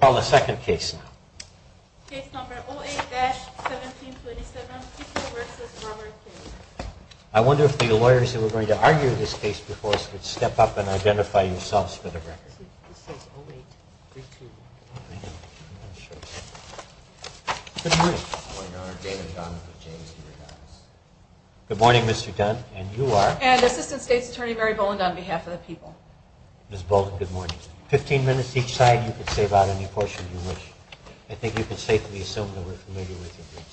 call the second case now. I wonder if the lawyers who were going to argue this case before us could step up and identify yourselves for the record. Good morning. Good morning Mr. Dunn and you are? And Assistant State's Attorney Mary Boland on behalf of the people. Ms. Boland, good morning. 15 minutes each side. You can save out any portion you wish. I think you can safely assume that we're familiar with the briefs.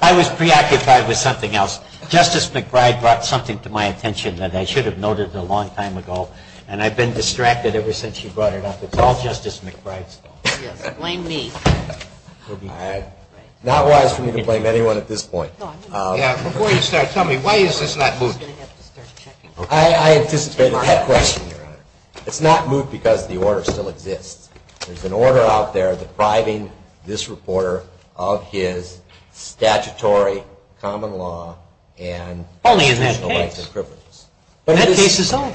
I was preoccupied with something else. Justice McBride brought something to my attention that I should have noted a long time ago, and I've been distracted ever since she brought it up. It's all Justice McBride's fault. Yes, blame me. Not wise for me to blame anyone at this point. Yeah, before you start, tell me, why is this not moved? I anticipated that question, Your Honor. It's not moved because the order still exists. There's an order out there depriving this reporter of his statutory common law rights. Only in that case. That case is over.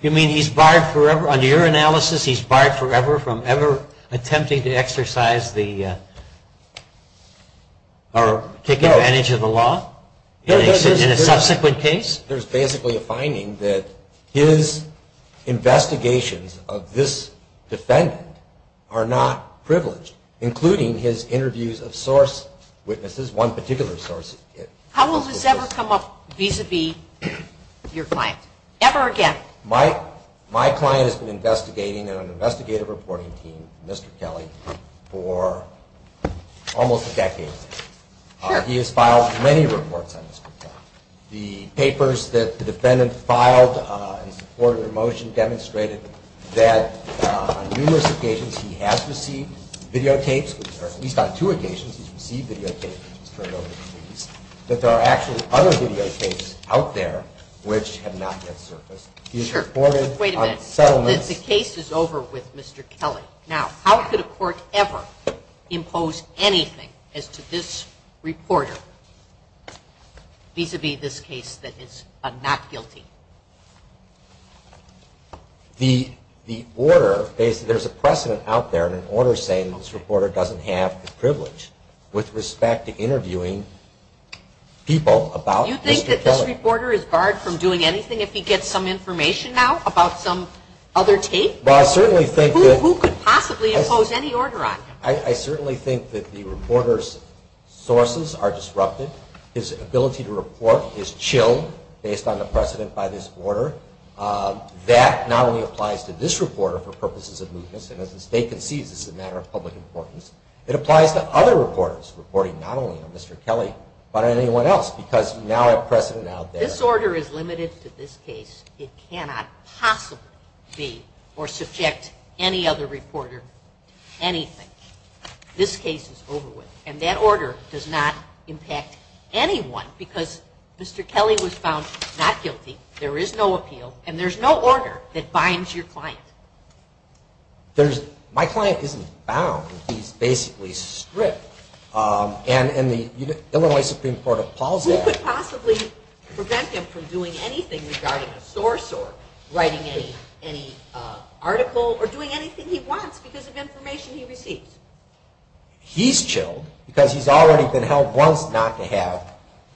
You mean he's barred forever, under your analysis, he's barred forever from ever attempting to exercise the, or take advantage of the law in a subsequent case? Well, there's basically a finding that his investigations of this defendant are not privileged, including his interviews of source witnesses, one particular source. How will this ever come up vis-a-vis your client, ever again? Well, my client has been investigating on an investigative reporting team, Mr. Kelly, for almost a decade. He has filed many reports on Mr. Kelly. The papers that the defendant filed in support of the motion demonstrated that on numerous occasions he has received videotapes, or at least on two occasions he's received videotapes, but there are actually other videotapes out there which have not yet surfaced. Wait a minute. The case is over with Mr. Kelly. Now, how could a court ever impose anything as to this reporter vis-a-vis this case that is not guilty? You think that this reporter is barred from doing anything if he gets some information out about some other tape? Who could possibly impose any order on him? I certainly think that the reporter's sources are disrupted. His ability to report is chilled based on the precedent by this order. That not only applies to this reporter for purposes of mootness, and as the State concedes this is a matter of public importance, it applies to other reporters reporting not only on Mr. Kelly, but on anyone else, because now a precedent out there. If this order is limited to this case, it cannot possibly be, or subject any other reporter to anything. This case is over with. And that order does not impact anyone, because Mr. Kelly was found not guilty, there is no appeal, and there's no order that binds your client. My client isn't bound, he's basically stripped, and the Illinois Supreme Court appalls that. Who could possibly prevent him from doing anything regarding a source, or writing any article, or doing anything he wants because of information he receives? He's chilled because he's already been held once not to have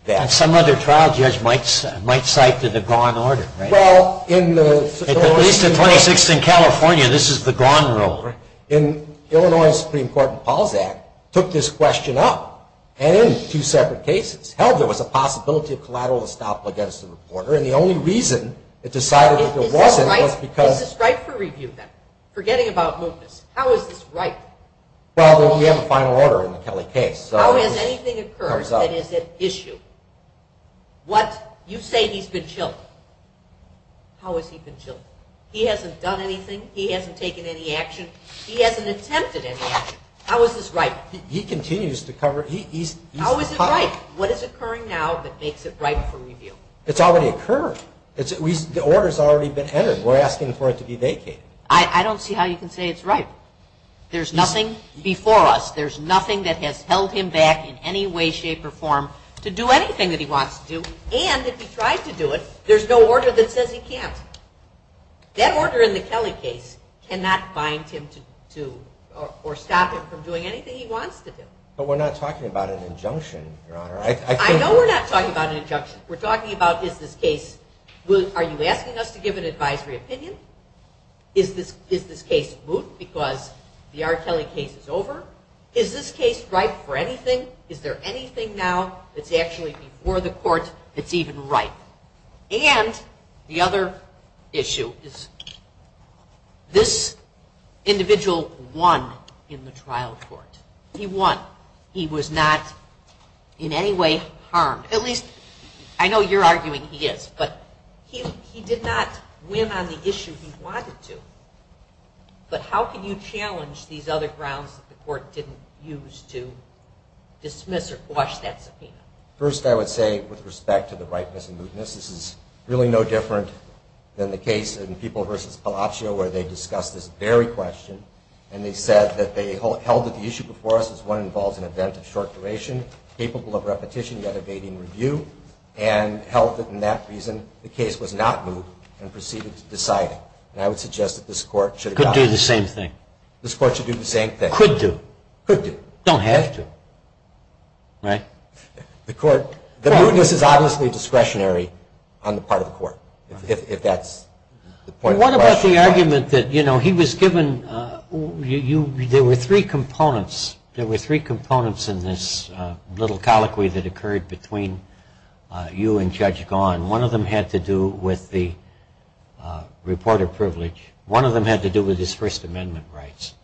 that. And some other trial judge might cite the gone order, right? At least in 2016 California, this is the gone rule. Illinois Supreme Court appalls that, took this question up, and in two separate cases, held there was a possibility of collateral estoppel against the reporter, and the only reason it decided that there wasn't was because… Forgetting about mootness, how is this ripe? Well, we have a final order in the Kelly case. How has anything occurred that is at issue? You say he's been chilled. How has he been chilled? He hasn't done anything, he hasn't taken any action, he hasn't attempted any action. How is this ripe? He continues to cover… How is it ripe? What is occurring now that makes it ripe for review? It's already occurred. The order's already been entered. We're asking for it to be vacated. I don't see how you can say it's ripe. There's nothing before us, there's nothing that has held him back in any way, shape, or form to do anything that he wants to do, and if he tried to do it, there's no order that says he can't. That order in the Kelly case cannot bind him to, or stop him from doing anything he wants to do. But we're not talking about an injunction, Your Honor. I know we're not talking about an injunction. We're talking about is this case, are you asking us to give an advisory opinion? Is this case moot because the R. Kelly case is over? Is this case ripe for anything? Is there anything now that's actually before the court that's even ripe? And the other issue is this individual won in the trial court. He won. He was not in any way harmed. At least, I know you're arguing he is, but he did not win on the issue he wanted to. But how can you challenge these other grounds that the court didn't use to dismiss or quash that subpoena? First, I would say, with respect to the ripeness and mootness, this is really no different than the case in People v. Palaccio, where they discussed this very question, and they said that they held that the issue before us is one that involves an event of short duration, capable of repetition, yet evading review, and held that, in that reason, the case was not moot and proceeded to deciding. And I would suggest that this court should have gotten that. Could do the same thing. This court should do the same thing. Could do. Could do. Don't have to. Right? The court, the mootness is obviously discretionary on the part of the court, if that's the point of the question. There were three components in this little colloquy that occurred between you and Judge Gahan. One of them had to do with the reporter privilege. One of them had to do with his First Amendment rights.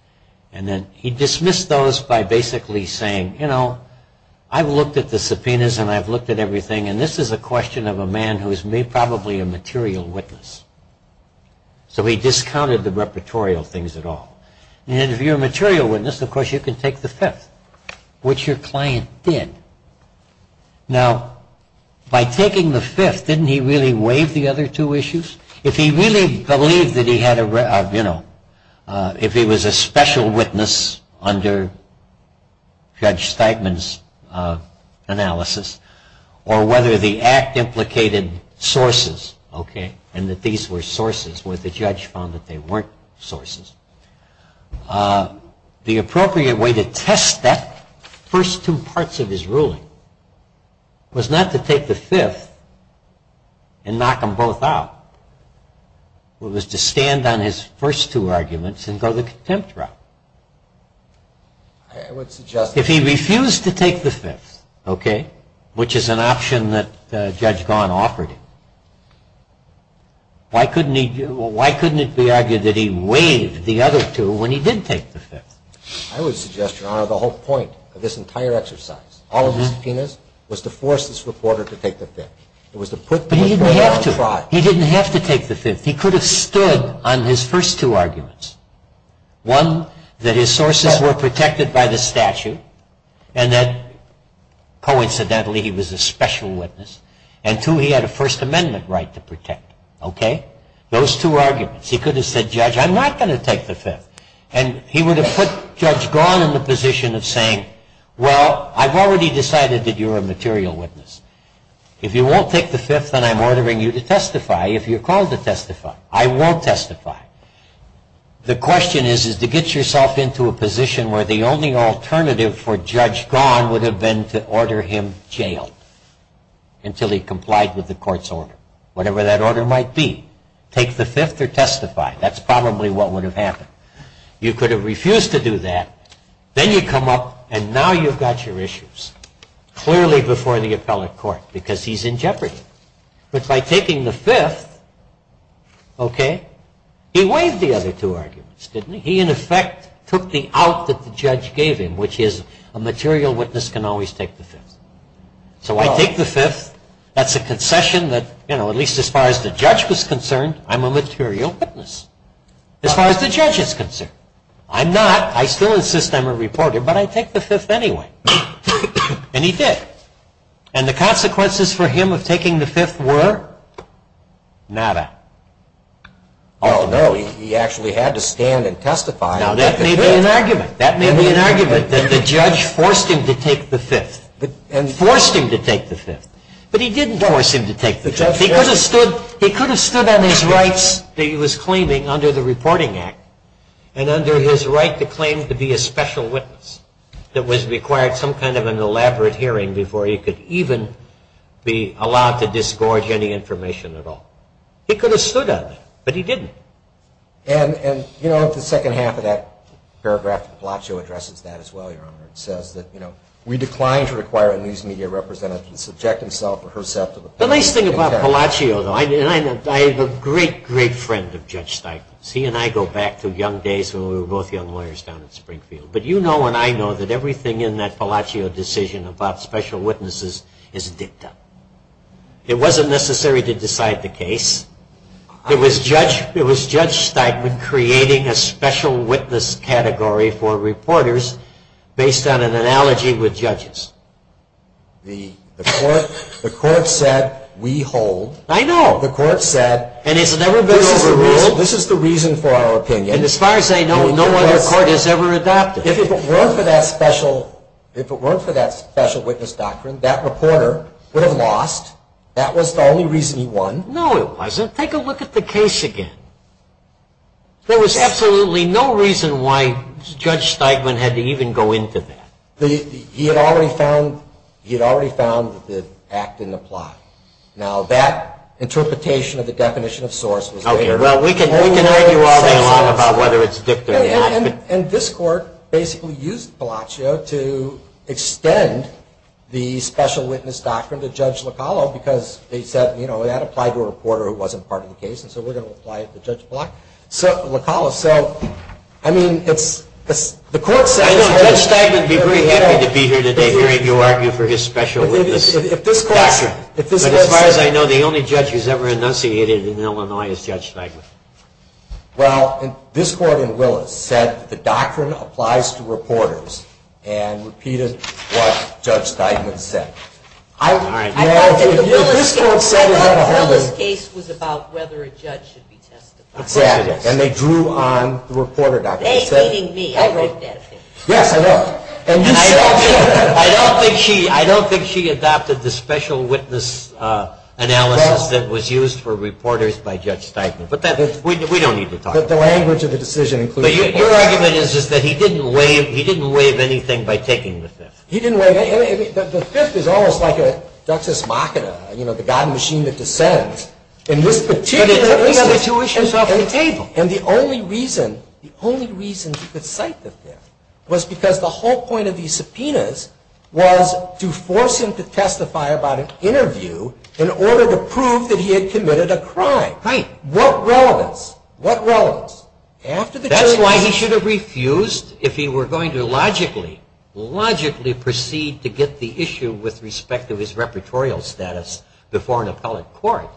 He dismissed those by basically saying, you know, I've looked at the subpoenas, and I've looked at everything, and this is a question of a man who is probably a material witness. So he discounted the repertorial things at all. And if you're a material witness, of course, you can take the fifth, which your client did. Now, by taking the fifth, didn't he really waive the other two issues? If he really believed that he had a, you know, if he was a special witness under Judge Steigman's analysis, or whether the act implicated sources, okay, and that these were sources where the judge found that they weren't sources, the appropriate way to test that first two parts of his ruling was not to take the fifth and knock them both out. It was to stand on his first two arguments and go the contempt route. If he refused to take the fifth, okay, which is an option that Judge Gahan offered him, why couldn't it be argued that he waived the other two when he did take the fifth? I would suggest, Your Honor, the whole point of this entire exercise, all of the subpoenas, was to force this reporter to take the fifth. But he didn't have to. He didn't have to take the fifth. He could have stood on his first two arguments. One, that his sources were protected by the statute, and that, coincidentally, he was a special witness. And two, he had a First Amendment right to protect, okay? Those two arguments. He could have said, Judge, I'm not going to take the fifth. And he would have put Judge Gahan in the position of saying, well, I've already decided that you're a material witness. If you won't take the fifth, then I'm ordering you to testify. If you're called to testify, I won't testify. The question is to get yourself into a position where the only alternative for Judge Gahan would have been to order him jailed until he complied with the court's order, whatever that order might be. Take the fifth or testify. That's probably what would have happened. You could have refused to do that. Then you come up, and now you've got your issues, clearly before the appellate court, because he's in jeopardy. But by taking the fifth, okay, he waived the other two arguments, didn't he? He, in effect, took the out that the judge gave him, which is a material witness can always take the fifth. So I take the fifth. That's a concession that, you know, at least as far as the judge was concerned, I'm a material witness, as far as the judge is concerned. I'm not. I still insist I'm a reporter, but I take the fifth anyway. And he did. And the consequences for him of taking the fifth were nada. Oh, no, he actually had to stand and testify. Now, that may be an argument. That may be an argument that the judge forced him to take the fifth, forced him to take the fifth. But he didn't force him to take the fifth. He could have stood on his rights that he was claiming under the Reporting Act, and under his right to claim to be a special witness that was required some kind of an elaborate hearing before he could even be allowed to disgorge any information at all. He could have stood on that, but he didn't. And, you know, the second half of that paragraph, the plot show addresses that as well, Your Honor. It says that, you know, we decline to require a news media representative to subject himself or herself to the penalty. The nice thing about Palacio, though, and I have a great, great friend of Judge Steinman's. He and I go back to young days when we were both young lawyers down in Springfield. But you know and I know that everything in that Palacio decision about special witnesses is dicta. It wasn't necessary to decide the case. It was Judge Steinman creating a special witness category for reporters based on an analogy with judges. The court said we hold. I know. The court said. And it's never been overruled. This is the reason for our opinion. And as far as I know, no other court has ever adopted. If it weren't for that special witness doctrine, that reporter would have lost. That was the only reason he won. No, it wasn't. Take a look at the case again. There was absolutely no reason why Judge Steinman had to even go into that. He had already found the act in the plot. Now, that interpretation of the definition of source was made. Well, we can argue all day long about whether it's dicta or not. And this court basically used Palacio to extend the special witness doctrine to Judge Locallo because they said, you know, that applied to a reporter who wasn't part of the case, and so we're going to apply it to Judge Locallo. So, I mean, the court said. Judge Steinman would be very happy to be here today hearing you argue for his special witness doctrine. But as far as I know, the only judge who's ever enunciated in Illinois is Judge Steinman. Well, this court in Willis said the doctrine applies to reporters and repeated what Judge Steinman said. I thought that the Willis case was about whether a judge should be testified. Exactly. And they drew on the reporter doctrine. Yes, I know. I don't think she adopted the special witness analysis that was used for reporters by Judge Steinman. But we don't need to talk about that. But the language of the decision includes reporters. But your argument is just that he didn't waive anything by taking the fifth. He didn't waive anything. The fifth is almost like a Duxus Machina, you know, the God machine that descends. But it took another two issues off the table. And the only reason he could cite the fifth was because the whole point of these subpoenas was to force him to testify about an interview in order to prove that he had committed a crime. What relevance? What relevance? That's why he should have refused if he were going to logically, logically proceed to get the issue with respect to his repertorial status before an appellate court.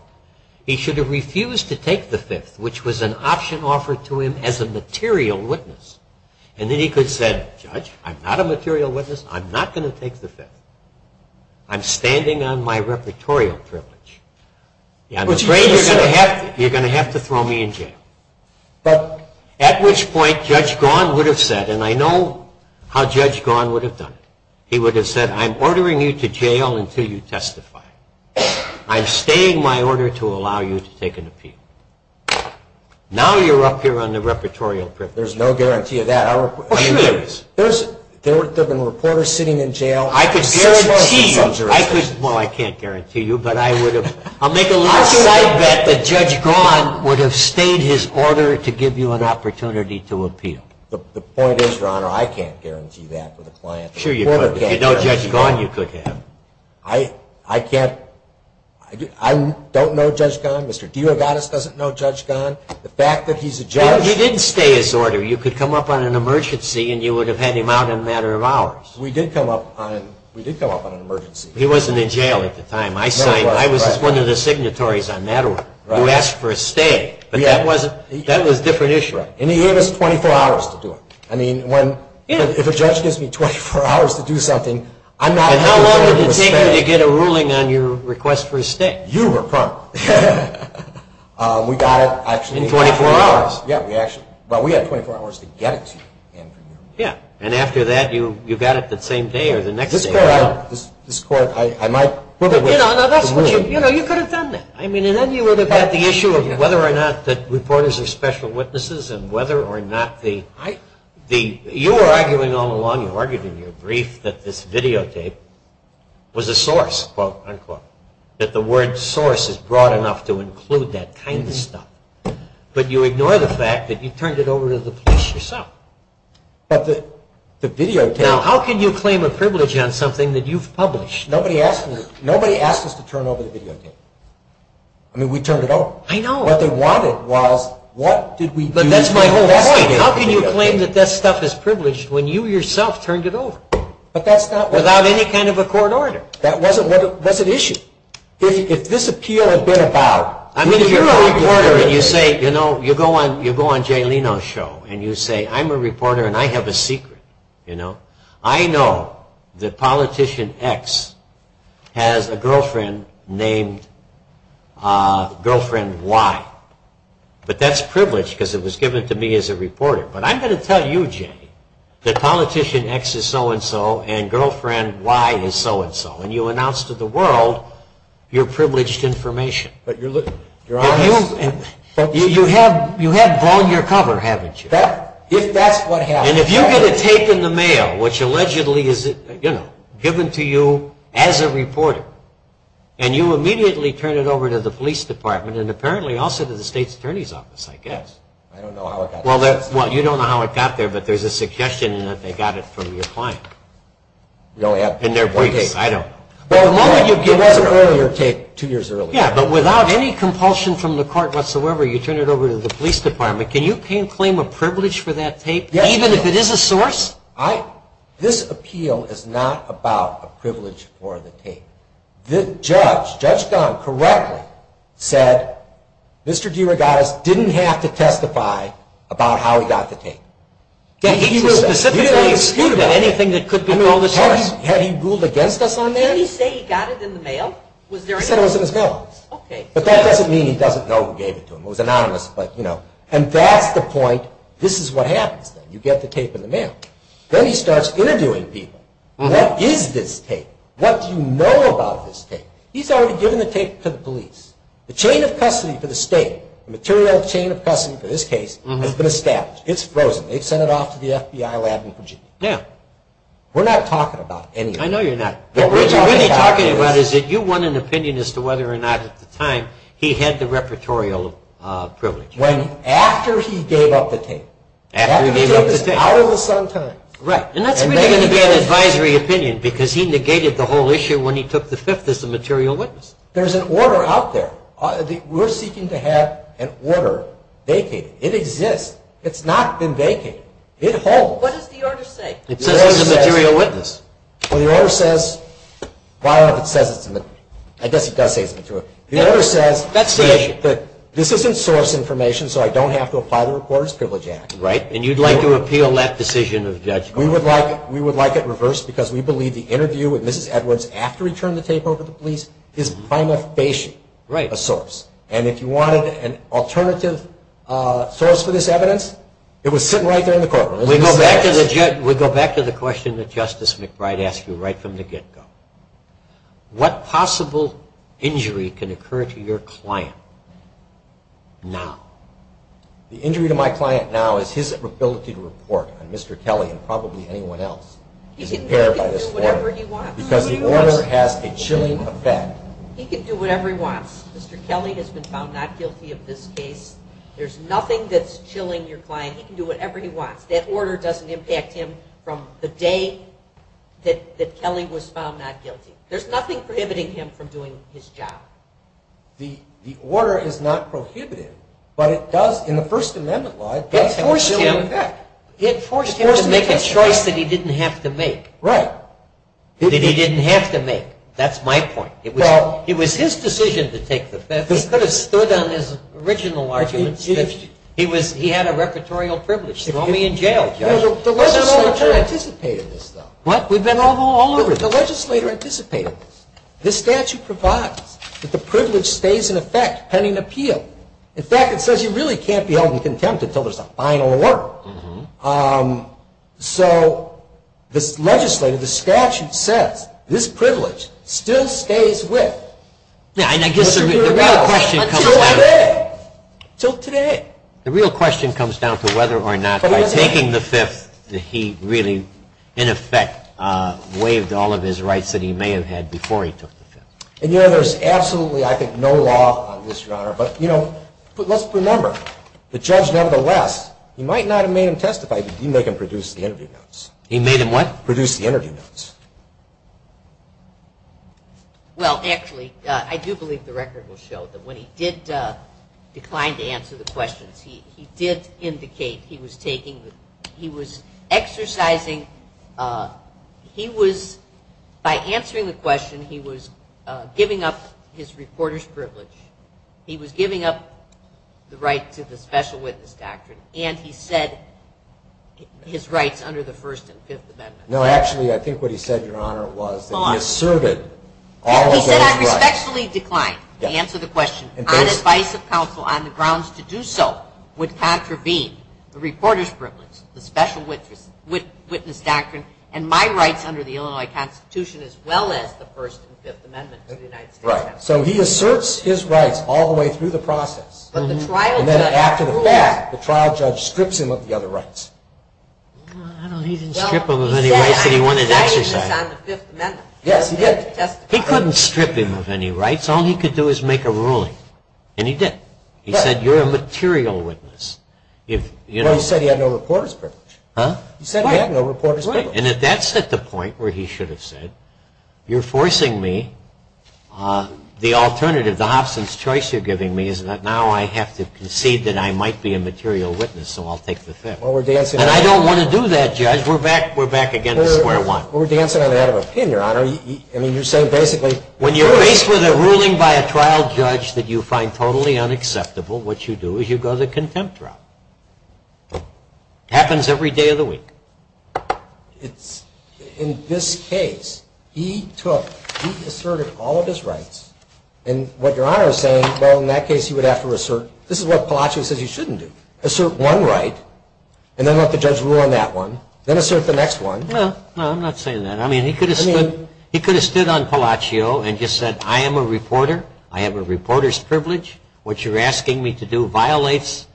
He should have refused to take the fifth, which was an option offered to him as a material witness. And then he could have said, Judge, I'm not a material witness. I'm not going to take the fifth. I'm standing on my repertorial privilege. I'm afraid you're going to have to throw me in jail. But at which point Judge Gaughan would have said, and I know how Judge Gaughan would have done it. He would have said, I'm ordering you to jail until you testify. I'm staying my order to allow you to take an appeal. Now you're up here on the repertorial privilege. There's no guarantee of that. Oh, sure there is. There have been reporters sitting in jail. I could guarantee you. Well, I can't guarantee you, but I would have. I'll make a long side bet that Judge Gaughan would have stayed his order to give you an opportunity to appeal. The point is, Your Honor, I can't guarantee that for the client. Sure you could. If you know Judge Gaughan, you could have. I can't. I don't know Judge Gaughan. Mr. Diogatis doesn't know Judge Gaughan. The fact that he's a judge. He didn't stay his order. You could come up on an emergency and you would have had him out in a matter of hours. We did come up on an emergency. He wasn't in jail at the time. I signed. I was one of the signatories on that one. You asked for a stay, but that was a different issue. And he gave us 24 hours to do it. I mean, if a judge gives me 24 hours to do something, I'm not going to do it. And how long did it take you to get a ruling on your request for a stay? You were prompt. We got it, actually. In 24 hours? Yeah. Well, we had 24 hours to get it to you. Yeah. And after that, you got it the same day or the next day. This Court, I might. You know, you could have done that. I mean, and then you would have had the issue of whether or not the reporters are special witnesses and whether or not the – you were arguing all along, you argued in your brief, that this videotape was a source, quote, unquote, that the word source is broad enough to include that kind of stuff. But you ignore the fact that you turned it over to the police yourself. But the videotape – Now, how can you claim a privilege on something that you've published? Nobody asked us to turn over the videotape. I mean, we turned it over. I know. What they wanted was, what did we do? But that's my whole point. How can you claim that that stuff is privileged when you yourself turned it over? But that's not what – Without any kind of a court order. That wasn't what – that's an issue. If this appeal had been about – I mean, if you're a reporter and you say – you know, you go on Jay Leno's show and you say, I'm a reporter and I have a secret, you know. I know that Politician X has a girlfriend named Girlfriend Y. But that's privileged because it was given to me as a reporter. But I'm going to tell you, Jay, that Politician X is so-and-so and Girlfriend Y is so-and-so. And you announce to the world your privileged information. But you're honest. You have blown your cover, haven't you? If that's what happens. And if you get a tape in the mail, which allegedly is, you know, given to you as a reporter, and you immediately turn it over to the police department and apparently also to the state's attorney's office, I guess. I don't know how it got there. Well, you don't know how it got there, but there's a suggestion that they got it from your client. In their briefcase. I don't know. It was an earlier tape, two years earlier. Yeah, but without any compulsion from the court whatsoever, you turn it over to the police department. Can you claim a privilege for that tape? Even if it is a source? This appeal is not about a privilege for the tape. The judge, Judge Gunn, correctly said, Mr. DeRogatis didn't have to testify about how he got the tape. He didn't have to speak about anything that could be in the source. Had he ruled against us on that? Didn't he say he got it in the mail? He said it was in his mail. But that doesn't mean he doesn't know who gave it to him. It was anonymous, but, you know. And that's the point. This is what happens then. You get the tape in the mail. Then he starts interviewing people. What is this tape? What do you know about this tape? He's already given the tape to the police. The chain of custody for the state, the material chain of custody for this case, has been established. It's frozen. They've sent it off to the FBI lab in Virginia. Yeah. We're not talking about anything. I know you're not. What we're talking about is that you want an opinion as to whether or not at the time he had the repertorial privilege. After he gave up the tape. After he gave up the tape. After he gave up the tape. That was hours on time. Right. And that's really going to be an advisory opinion because he negated the whole issue when he took the Fifth as a material witness. There's an order out there. We're seeking to have an order vacated. It exists. It's not been vacated. It holds. What does the order say? It says he's a material witness. I guess it does say he's a material witness. That's the issue. This isn't source information, so I don't have to apply the Reporters' Privilege Act. Right. And you'd like to appeal that decision of the judge? We would like it reversed because we believe the interview with Mrs. Edwards after he turned the tape over to the police is by noffation a source. Right. And if you wanted an alternative source for this evidence, it was sitting right there in the courtroom. We go back to the question that Justice McBride asked you right from the get-go. What possible injury can occur to your client now? The injury to my client now is his ability to report on Mr. Kelly and probably anyone else. He can do whatever he wants. Because the order has a chilling effect. He can do whatever he wants. Mr. Kelly has been found not guilty of this case. There's nothing that's chilling your client. He can do whatever he wants. That order doesn't impact him from the day that Kelly was found not guilty. There's nothing prohibiting him from doing his job. The order is not prohibitive, but it does, in the First Amendment law, it does have a chilling effect. It forced him to make a choice that he didn't have to make. Right. That he didn't have to make. That's my point. It was his decision to take the bet. He could have stood on his original arguments. He had a repertorial privilege. Throw me in jail. The legislator anticipated this, though. What? We've been all over this. The legislator anticipated this. This statute provides that the privilege stays in effect pending appeal. In fact, it says you really can't be held in contempt until there's a final alert. So this legislator, the statute says this privilege still stays with Mr. Murillo until today. The real question comes down to whether or not by taking the Fifth that he really, in effect, waived all of his rights that he may have had before he took the Fifth. And, you know, there's absolutely, I think, no law on this, Your Honor. But, you know, let's remember the judge, nevertheless, he might not have made him testify, but he made him produce the interview notes. He made him what? Produce the interview notes. Well, actually, I do believe the record will show that when he did decline to answer the questions, he did indicate he was taking the ‑‑ he was exercising ‑‑ he was, by answering the question, he was giving up his reporter's privilege. He was giving up the right to the special witness doctrine, and he said his rights under the First and Fifth Amendments. No, actually, I think what he said, Your Honor, was that he asserted all of those rights. He said I respectfully decline to answer the question. On advice of counsel, on the grounds to do so, would contravene the reporter's privilege, the special witness doctrine, and my rights under the Illinois Constitution as well as the First and Fifth Amendments of the United States Constitution. Right. So he asserts his rights all the way through the process. But the trial judge rules. And then after the fact, the trial judge strips him of the other rights. Well, he didn't strip him of any rights that he wanted to exercise. Well, he said he was exercising on the Fifth Amendment. Yes, he did. He couldn't strip him of any rights. All he could do is make a ruling. And he did. He said you're a material witness. Well, he said he had no reporter's privilege. Huh? He said he had no reporter's privilege. And that's at the point where he should have said, you're forcing me, the alternative, the Hobson's choice you're giving me is that now I have to concede that I might be a material witness, so I'll take the Fifth. Well, we're dancing on the head of a pin. And I don't want to do that, Judge. We're back against square one. Well, we're dancing on the head of a pin, Your Honor. I mean, you're saying, basically, When you're faced with a ruling by a trial judge that you find totally unacceptable, what you do is you go to contempt trial. It happens every day of the week. In this case, he took, he asserted all of his rights. And what Your Honor is saying, well, in that case, he would have to assert, this is what Palacio says he shouldn't do, assert one right, and then let the judge rule on that one, then assert the next one. No, I'm not saying that. I mean, he could have stood on Palacio and just said, I am a reporter. I have a reporter's privilege. What you're asking me to do violates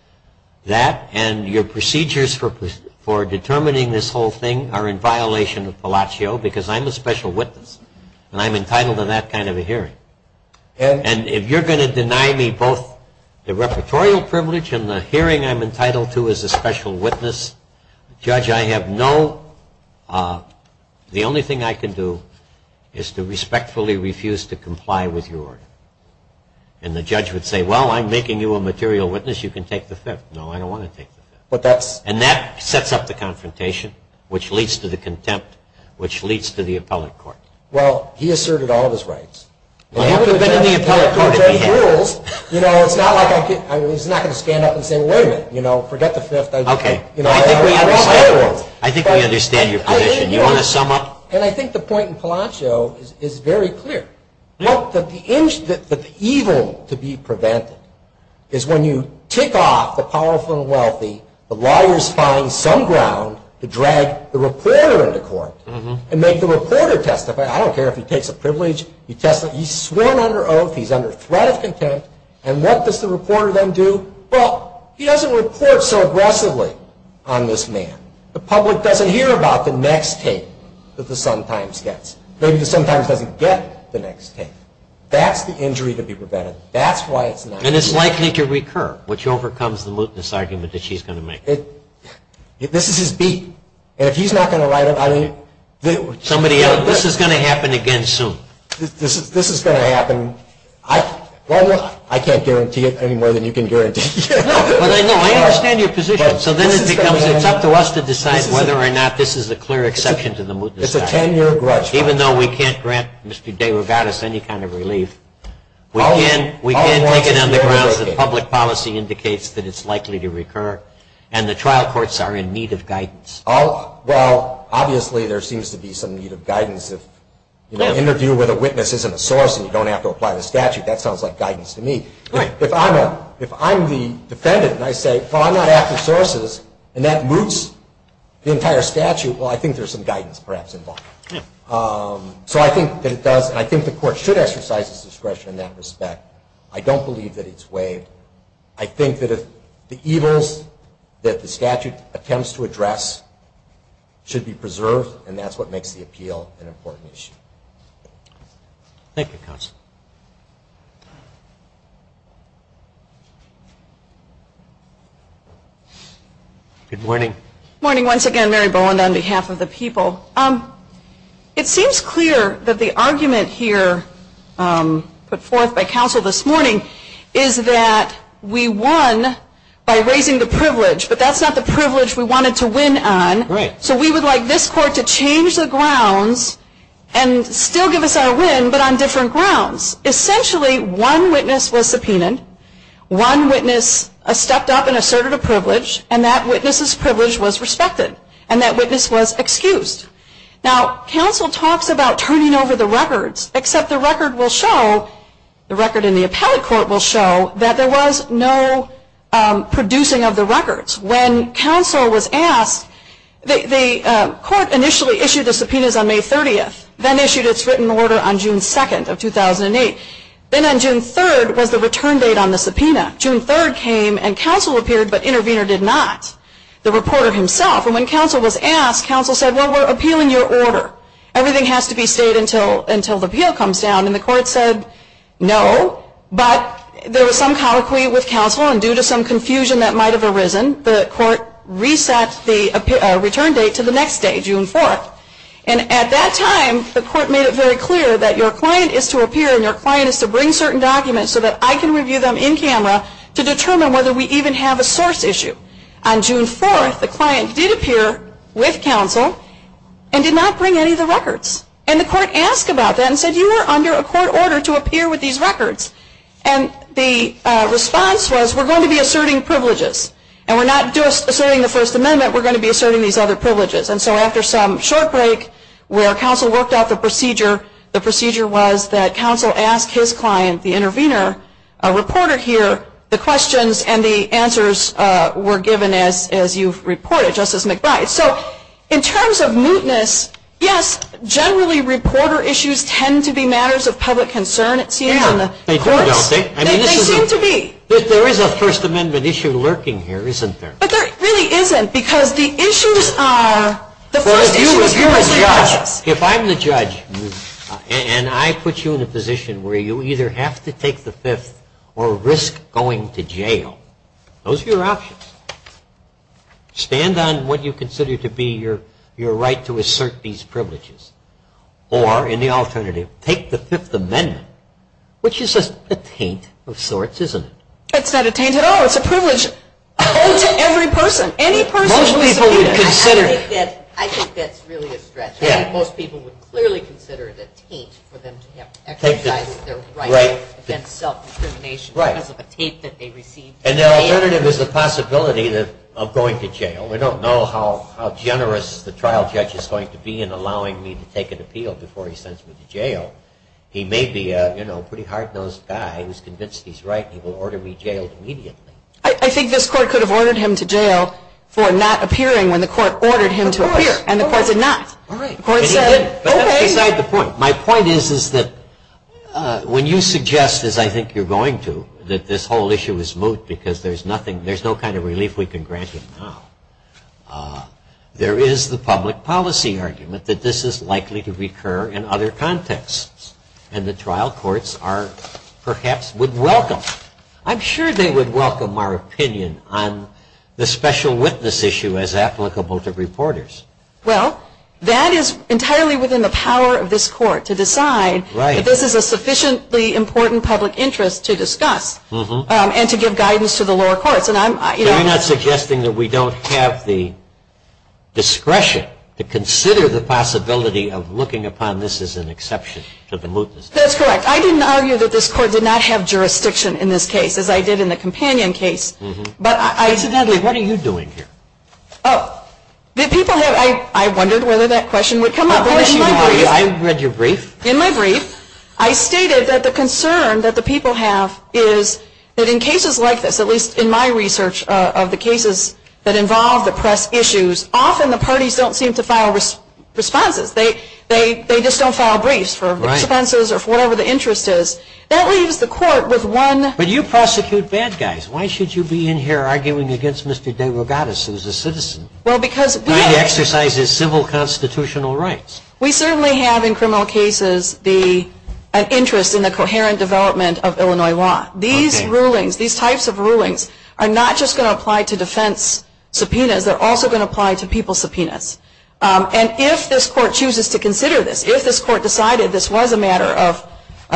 that, and your procedures for determining this whole thing are in violation of Palacio because I'm a special witness, and I'm entitled to that kind of a hearing. And if you're going to deny me both the repertorial privilege and the hearing I'm entitled to as a special witness, judge, I have no, the only thing I can do is to respectfully refuse to comply with your order. And the judge would say, well, I'm making you a material witness. You can take the fifth. No, I don't want to take the fifth. And that sets up the confrontation, which leads to the contempt, which leads to the appellate court. Well, he asserted all of his rights. Well, you would have been in the appellate court if he had. You know, it's not like he's not going to stand up and say, wait a minute, you know, forget the fifth. Okay. I think we understand your position. Do you want to sum up? And I think the point in Palacio is very clear. The evil to be prevented is when you tick off the powerful and wealthy, the lawyers find some ground to drag the reporter into court and make the reporter testify. I don't care if he takes a privilege. He's sworn under oath. He's under threat of contempt. And what does the reporter then do? Well, he doesn't report so aggressively on this man. The public doesn't hear about the next tape that the Sun-Times gets. Maybe the Sun-Times doesn't get the next tape. That's the injury to be prevented. That's why it's not. And it's likely to recur, which overcomes the mutinous argument that she's going to make. This is his beat. And if he's not going to write it, I mean. Somebody else. This is going to happen again soon. This is going to happen. I can't guarantee it any more than you can guarantee. No, but I know. I understand your position. So then it becomes it's up to us to decide whether or not this is a clear exception to the mutinous argument. It's a ten-year grudge. Even though we can't grant Mr. DeRogatis any kind of relief, we can take it on the grounds that public policy indicates that it's likely to recur, and the trial courts are in need of guidance. Well, obviously there seems to be some need of guidance. An interview with a witness isn't a source, and you don't have to apply the statute. That sounds like guidance to me. If I'm the defendant and I say, well, I'm not after sources, and that moots the entire statute, well, I think there's some guidance perhaps involved. So I think that it does. And I think the court should exercise its discretion in that respect. I don't believe that it's waived. I think that the evils that the statute attempts to address should be preserved, and that's what makes the appeal an important issue. Thank you, Counsel. Good morning. Good morning once again. Mary Bowen on behalf of the people. It seems clear that the argument here put forth by counsel this morning is that we won by raising the privilege, but that's not the privilege we wanted to win on. Right. So we would like this court to change the grounds and still give us our win, but on different grounds. Essentially, one witness was subpoenaed, one witness stepped up and asserted a privilege, and that witness's privilege was respected, and that witness was excused. Now, counsel talks about turning over the records, except the record will show, the record in the appellate court will show, that there was no producing of the records. When counsel was asked, the court initially issued the subpoenas on May 30th, then issued its written order on June 2nd of 2008. Then on June 3rd was the return date on the subpoena. June 3rd came and counsel appeared, but intervener did not. The reporter himself. And when counsel was asked, counsel said, well, we're appealing your order. Everything has to be stayed until the appeal comes down. And the court said no, but there was some colloquy with counsel, and due to some confusion that might have arisen, the court reset the return date to the next day, June 4th. And at that time, the court made it very clear that your client is to appear and your client is to bring certain documents so that I can review them in camera to determine whether we even have a source issue. On June 4th, the client did appear with counsel and did not bring any of the records. And the court asked about that and said, you are under a court order to appear with these records. And the response was, we're going to be asserting privileges. And we're not just asserting the First Amendment, we're going to be asserting these other privileges. And so after some short break where counsel worked out the procedure, the procedure was that counsel asked his client, the intervener, a reporter here, the questions and the answers were given as you've reported, Justice McBride. So in terms of mootness, yes, generally reporter issues tend to be matters of public concern. They do, don't they? They seem to be. But there is a First Amendment issue lurking here, isn't there? But there really isn't, because the issues are, the first issue is publicly judged. If I'm the judge and I put you in a position where you either have to take the Fifth or risk going to jail, those are your options. Stand on what you consider to be your right to assert these privileges. Or, in the alternative, take the Fifth Amendment, which is just a taint of sorts, isn't it? It's not a taint at all. It's a privilege owed to every person. I think that's really a stretch. Most people would clearly consider it a taint for them to exercise their right to self-discrimination because of a taint that they received. And the alternative is the possibility of going to jail. We don't know how generous the trial judge is going to be in allowing me to take an appeal before he sends me to jail. He may be a pretty hard-nosed guy who's convinced he's right and he will order me jailed immediately. I think this court could have ordered him to jail for not appearing when the court ordered him to appear. And the court did not. The court said, okay. But that's beside the point. My point is that when you suggest, as I think you're going to, that this whole issue is moot because there's no kind of relief we can grant him now, there is the public policy argument that this is likely to recur in other contexts. And the trial courts perhaps would welcome. I'm sure they would welcome our opinion on the special witness issue as applicable to reporters. Well, that is entirely within the power of this court to decide that this is a sufficiently important public interest to discuss and to give guidance to the lower courts. So you're not suggesting that we don't have the discretion to consider the possibility of looking upon this as an exception to the mootness? That's correct. I didn't argue that this court did not have jurisdiction in this case as I did in the companion case. I said, Natalie, what are you doing here? I wondered whether that question would come up. I read your brief. In my brief, I stated that the concern that the people have is that in cases like this, at least in my research of the cases that involve the press issues, often the parties don't seem to file responses. They just don't file briefs for expenses or for whatever the interest is. That leaves the court with one. But you prosecute bad guys. Why should you be in here arguing against Mr. DeRogatis, who is a citizen? Well, because. He exercises civil constitutional rights. We certainly have in criminal cases an interest in the coherent development of Illinois law. These rulings, these types of rulings, are not just going to apply to defense subpoenas. They're also going to apply to people subpoenas. And if this court chooses to consider this, if this court decided this was a matter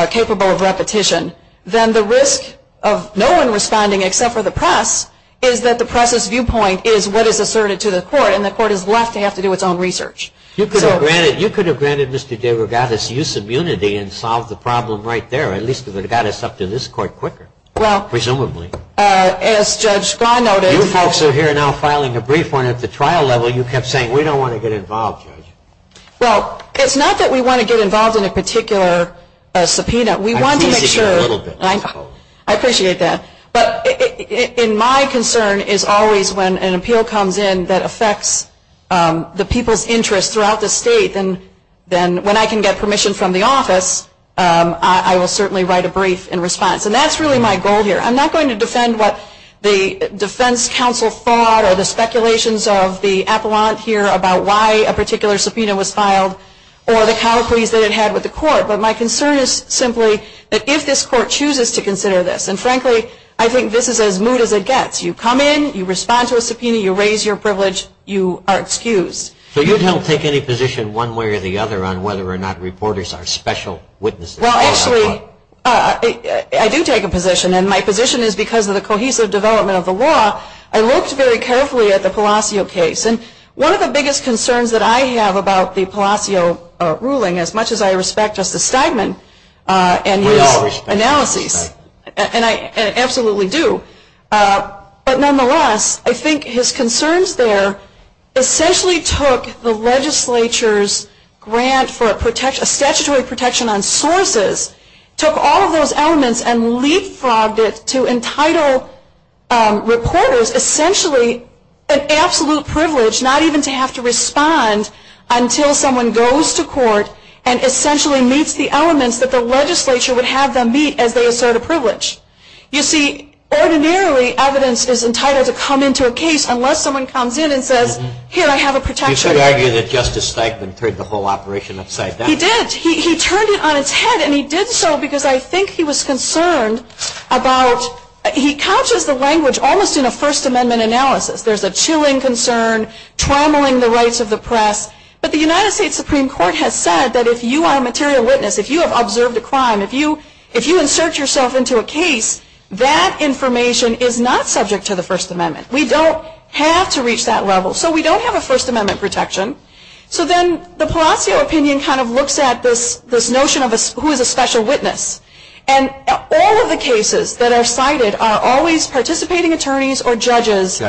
capable of repetition, then the risk of no one responding except for the press is that the press's viewpoint is what is asserted to the court, and the court is left to have to do its own research. You could have granted Mr. DeRogatis use of unity and solved the problem right there, at least it would have got us up to this court quicker, presumably. Well, as Judge Gaw noted. You folks are here now filing a brief one at the trial level. You kept saying we don't want to get involved, Judge. Well, it's not that we want to get involved in a particular subpoena. We want to make sure. I appreciate that a little bit. I appreciate that. But in my concern is always when an appeal comes in that affects the people's interest throughout the state, then when I can get permission from the office, I will certainly write a brief in response. And that's really my goal here. I'm not going to defend what the defense counsel thought or the speculations of the appellant here about why a particular subpoena was filed or the colloquies that it had with the court, but my concern is simply that if this court chooses to consider this, and frankly I think this is as moot as it gets. You come in, you respond to a subpoena, you raise your privilege, you are excused. So you don't take any position one way or the other on whether or not reporters are special witnesses? Well, actually, I do take a position, and my position is because of the cohesive development of the law. I looked very carefully at the Palacio case, and one of the biggest concerns that I have about the Palacio ruling, as much as I respect Justice Steinman and his analyses, and I absolutely do, but nonetheless I think his concerns there essentially took the legislature's grant for a statutory protection on sources, took all of those elements, and leapfrogged it to entitle reporters essentially an absolute privilege, not even to have to respond until someone goes to court and essentially meets the elements that the legislature would have them meet as they assert a privilege. You see, ordinarily evidence is entitled to come into a case unless someone comes in and says, here, I have a protection. You should argue that Justice Steinman turned the whole operation upside down. He did. He turned it on its head, and he did so because I think he was concerned about, he couches the language almost in a First Amendment analysis. There's a chilling concern, trammeling the rights of the press, but the United States Supreme Court has said that if you are a material witness, if you have observed a crime, if you insert yourself into a case, that information is not subject to the First Amendment. We don't have to reach that level. So we don't have a First Amendment protection. So then the Palacio opinion kind of looks at this notion of who is a special witness. And all of the cases that are cited are always participating attorneys or judges. Or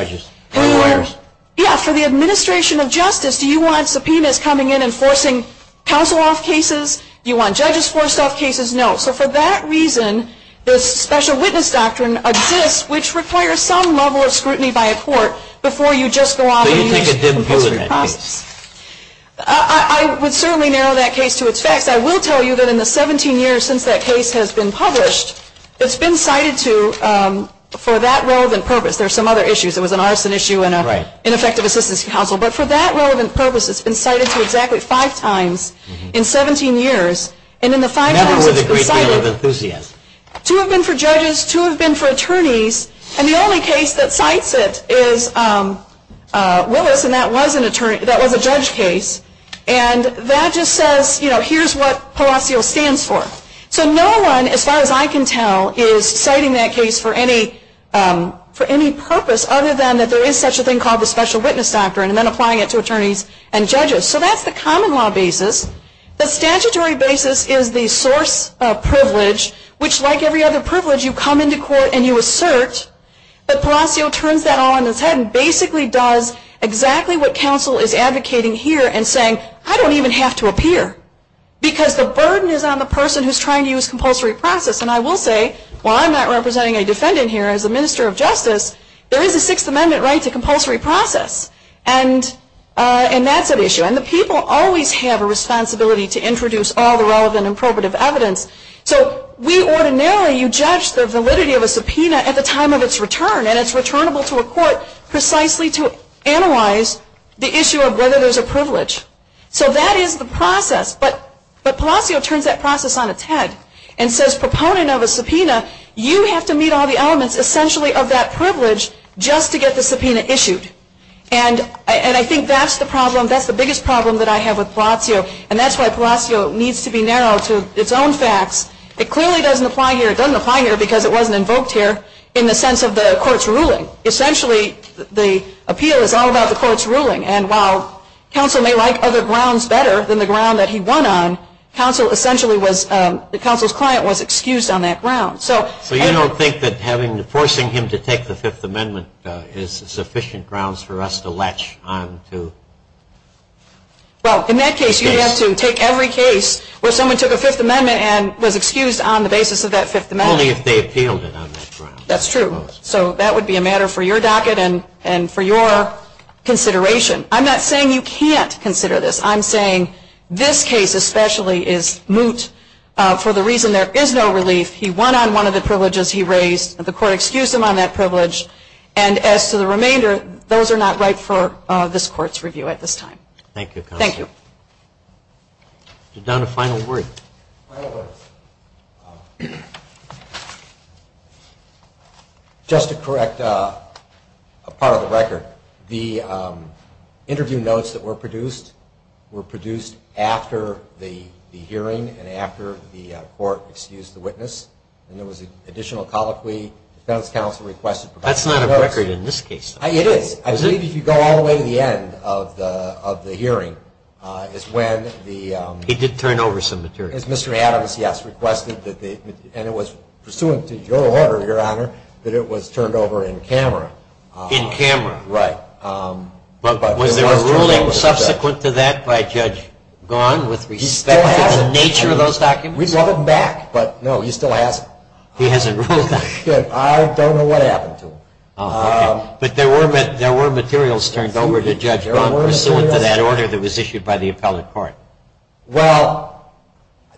lawyers. Yeah. For the administration of justice, do you want subpoenas coming in and forcing counsel off cases? Do you want judges forced off cases? No. So for that reason, this special witness doctrine exists, which requires some level of scrutiny by a court before you just go off and use it. So you think it didn't do it in that case. I would certainly narrow that case to its facts. I will tell you that in the 17 years since that case has been published, it's been cited for that relevant purpose. There are some other issues. There was an arson issue and an ineffective assistance counsel. But for that relevant purpose, it's been cited to exactly five times in 17 years. Never with a great deal of enthusiasm. Two have been for judges. Two have been for attorneys. And the only case that cites it is Willis, and that was a judge case. And that just says, you know, here's what Palacio stands for. So no one, as far as I can tell, is citing that case for any purpose, other than that there is such a thing called the special witness doctrine, and then applying it to attorneys and judges. So that's the common law basis. The statutory basis is the source of privilege, which like every other privilege you come into court and you assert. But Palacio turns that all on its head and basically does exactly what counsel is advocating here and saying, I don't even have to appear. Because the burden is on the person who's trying to use compulsory process. And I will say, while I'm not representing a defendant here as a minister of justice, there is a Sixth Amendment right to compulsory process. And that's an issue. And the people always have a responsibility to introduce all the relevant and appropriate evidence. So we ordinarily judge the validity of a subpoena at the time of its return, and it's returnable to a court precisely to analyze the issue of whether there's a privilege. So that is the process. But Palacio turns that process on its head and says, proponent of a subpoena, you have to meet all the elements essentially of that privilege just to get the subpoena issued. And I think that's the problem. That's the biggest problem that I have with Palacio. And that's why Palacio needs to be narrow to its own facts. It clearly doesn't apply here. It doesn't apply here because it wasn't invoked here in the sense of the court's ruling. Essentially, the appeal is all about the court's ruling. And while counsel may like other grounds better than the ground that he won on, counsel essentially was, the counsel's client was excused on that ground. So you don't think that forcing him to take the Fifth Amendment is sufficient grounds for us to latch on to? Well, in that case, you have to take every case where someone took a Fifth Amendment and was excused on the basis of that Fifth Amendment. Only if they appealed it on that ground. That's true. So that would be a matter for your docket and for your consideration. I'm not saying you can't consider this. I'm saying this case especially is moot for the reason there is no relief. He won on one of the privileges he raised. The court excused him on that privilege. And as to the remainder, those are not right for this court's review at this time. Thank you, counsel. Thank you. Down to final words. Final words. Just to correct a part of the record, the interview notes that were produced after the hearing and after the court excused the witness. And there was an additional colloquy. The defense counsel requested. That's not a record in this case. It is. I believe if you go all the way to the end of the hearing is when the... He did turn over some material. Mr. Adams, yes, requested that the... And it was pursuant to your order, Your Honor, that it was turned over in camera. In camera. Right. But was there a ruling subsequent to that by Judge Gone with respect to the nature of those documents? We'd love him back. But, no, he still hasn't. He hasn't ruled on it. I don't know what happened to him. Okay. But there were materials turned over to Judge Gone pursuant to that order that was issued by the appellate court. Well,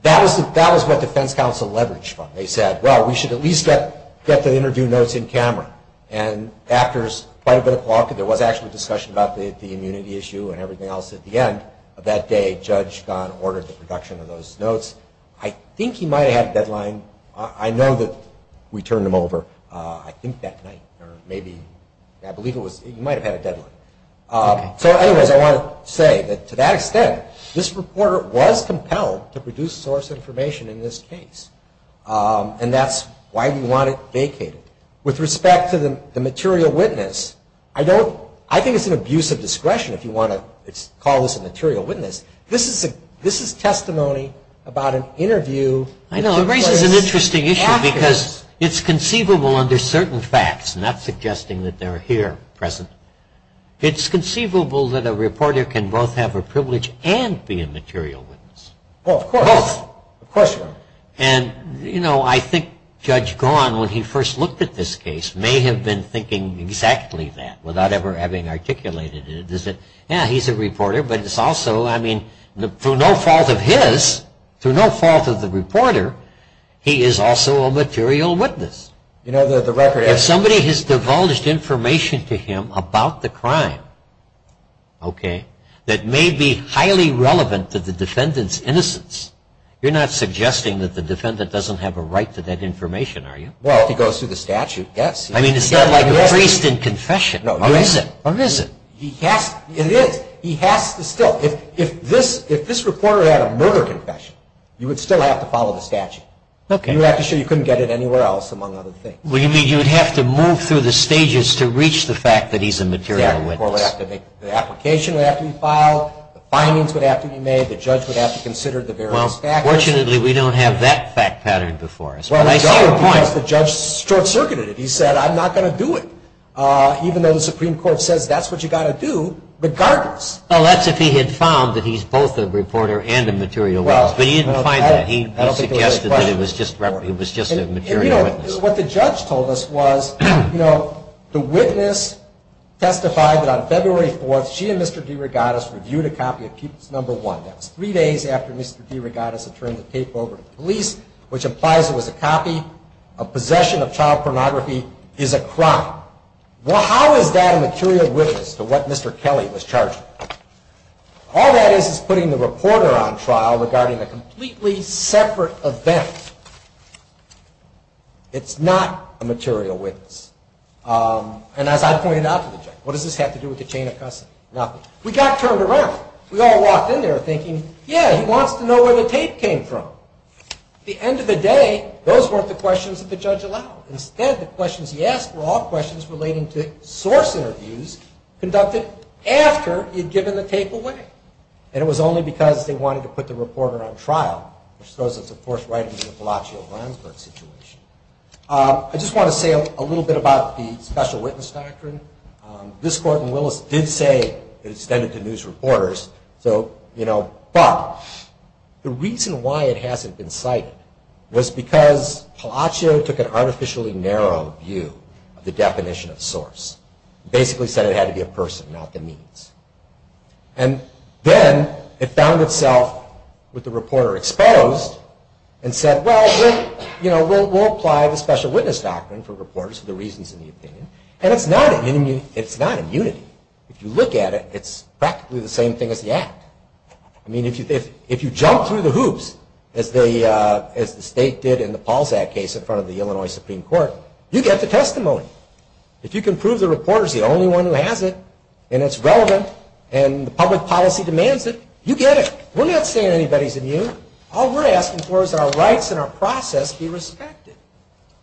that was what defense counsel leveraged from. They said, well, we should at least get the interview notes in camera. And after quite a bit of talk, there was actually discussion about the immunity issue and everything else at the end of that day, Judge Gone ordered the production of those notes. I think he might have had a deadline. I know that we turned him over, I think, that night or maybe... I believe it was... He might have had a deadline. Okay. So, anyways, I want to say that to that extent, this reporter was compelled to produce source information in this case. And that's why we want it vacated. With respect to the material witness, I don't... I think it's an abuse of discretion if you want to call this a material witness. This is testimony about an interview... I know. It raises an interesting issue because it's conceivable under certain facts, not suggesting that they're here present. It's conceivable that a reporter can both have a privilege and be a material witness. Oh, of course. Both. Of course you are. And, you know, I think Judge Gone, when he first looked at this case, may have been thinking exactly that without ever having articulated it. Yeah, he's a reporter, but it's also... I mean, through no fault of his, through no fault of the reporter, he is also a material witness. You know, the record... If somebody has divulged information to him about the crime, okay, that may be highly relevant to the defendant's innocence, you're not suggesting that the defendant doesn't have a right to that information, are you? Well, if he goes through the statute, yes. I mean, it's not like a priest in confession. No. Or is it? Or is it? It is. He has to still... If this reporter had a murder confession, you would still have to follow the statute. Okay. You would have to show you couldn't get it anywhere else, among other things. Well, you mean you would have to move through the stages to reach the fact that he's a material witness. The application would have to be filed, the findings would have to be made, the judge would have to consider the various factors. Well, fortunately, we don't have that fact pattern before us. But I see your point. Well, the judge short-circuited it. He said, I'm not going to do it, even though the Supreme Court says that's what you've got to do, regardless. Well, that's if he had found that he's both a reporter and a material witness. But he didn't find that. He suggested that he was just a material witness. You know, what the judge told us was, you know, the witness testified that on February 4th, she and Mr. DeRogatis reviewed a copy of Peoples No. 1. That was three days after Mr. DeRogatis had turned the tape over to the police, which implies it was a copy. A possession of child pornography is a crime. Well, how is that a material witness to what Mr. Kelly was charged with? All that is is putting the reporter on trial regarding a completely separate event. It's not a material witness. And as I pointed out to the judge, what does this have to do with the chain of custody? Nothing. We got turned around. We all walked in there thinking, yeah, he wants to know where the tape came from. At the end of the day, those weren't the questions that the judge allowed. Instead, the questions he asked were all questions relating to source interviews conducted after he had given the tape away. And it was only because they wanted to put the reporter on trial, which throws us, of course, right into the Palacios-Ramsburg situation. I just want to say a little bit about the special witness doctrine. This court in Willis did say it extended to news reporters. But the reason why it hasn't been cited was because Palacios took an artificially narrow view of the definition of source. Basically said it had to be a person, not the means. And then it found itself with the reporter exposed and said, well, we'll apply the special witness doctrine for reporters for the reasons in the opinion. And it's not immunity. If you look at it, it's practically the same thing as the act. I mean, if you jump through the hoops as the state did in the Pauls Act case in front of the Illinois Supreme Court, you get the testimony. If you can prove the reporter's the only one who has it and it's relevant and the public policy demands it, you get it. We're not saying anybody's immune. All we're asking for is that our rights and our process be respected.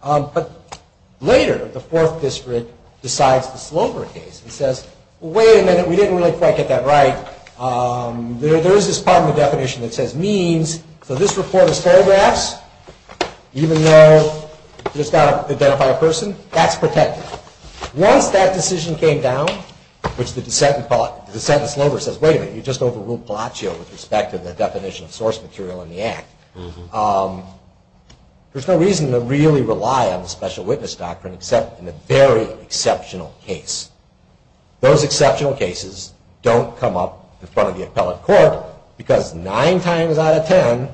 But later, the Fourth District decides the Slover case and says, wait a minute, we didn't really quite get that right. There is this part of the definition that says means. So this reporter's photographs, even though you've just got to identify a person, that's protected. Once that decision came down, which the dissent in Slover says, wait a minute, you just overruled Palacio with respect to the definition of source material in the act. There's no reason to really rely on the special witness doctrine except in a very exceptional case. Those exceptional cases don't come up in front of the appellate court because nine times out of ten,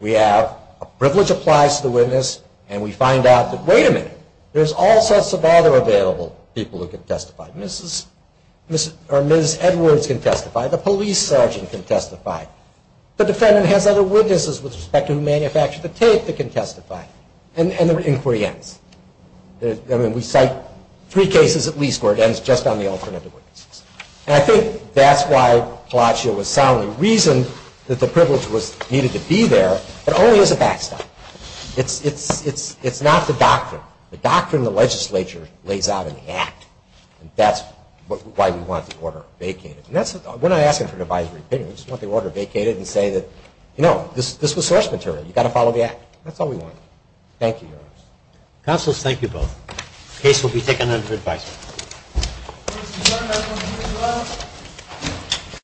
we have a privilege applies to the witness and we find out that, wait a minute, there's all sorts of other available people who can testify. Mrs. or Ms. Edwards can testify. The police sergeant can testify. The defendant has other witnesses with respect to who manufactured the tape that can testify. And the inquiry ends. I mean, we cite three cases at least where it ends just on the alternative witnesses. And I think that's why Palacio was soundly reasoned that the privilege was needed to be there, but only as a backstop. It's not the doctrine. The doctrine the legislature lays out in the act. That's why we want the order vacated. We're not asking for an advisory opinion. We just want the order vacated and say that, you know, this was source material. You've got to follow the act. That's all we want. Thank you, Your Honors. Counsel, thank you both. The case will be taken under advisory. Thank you very much.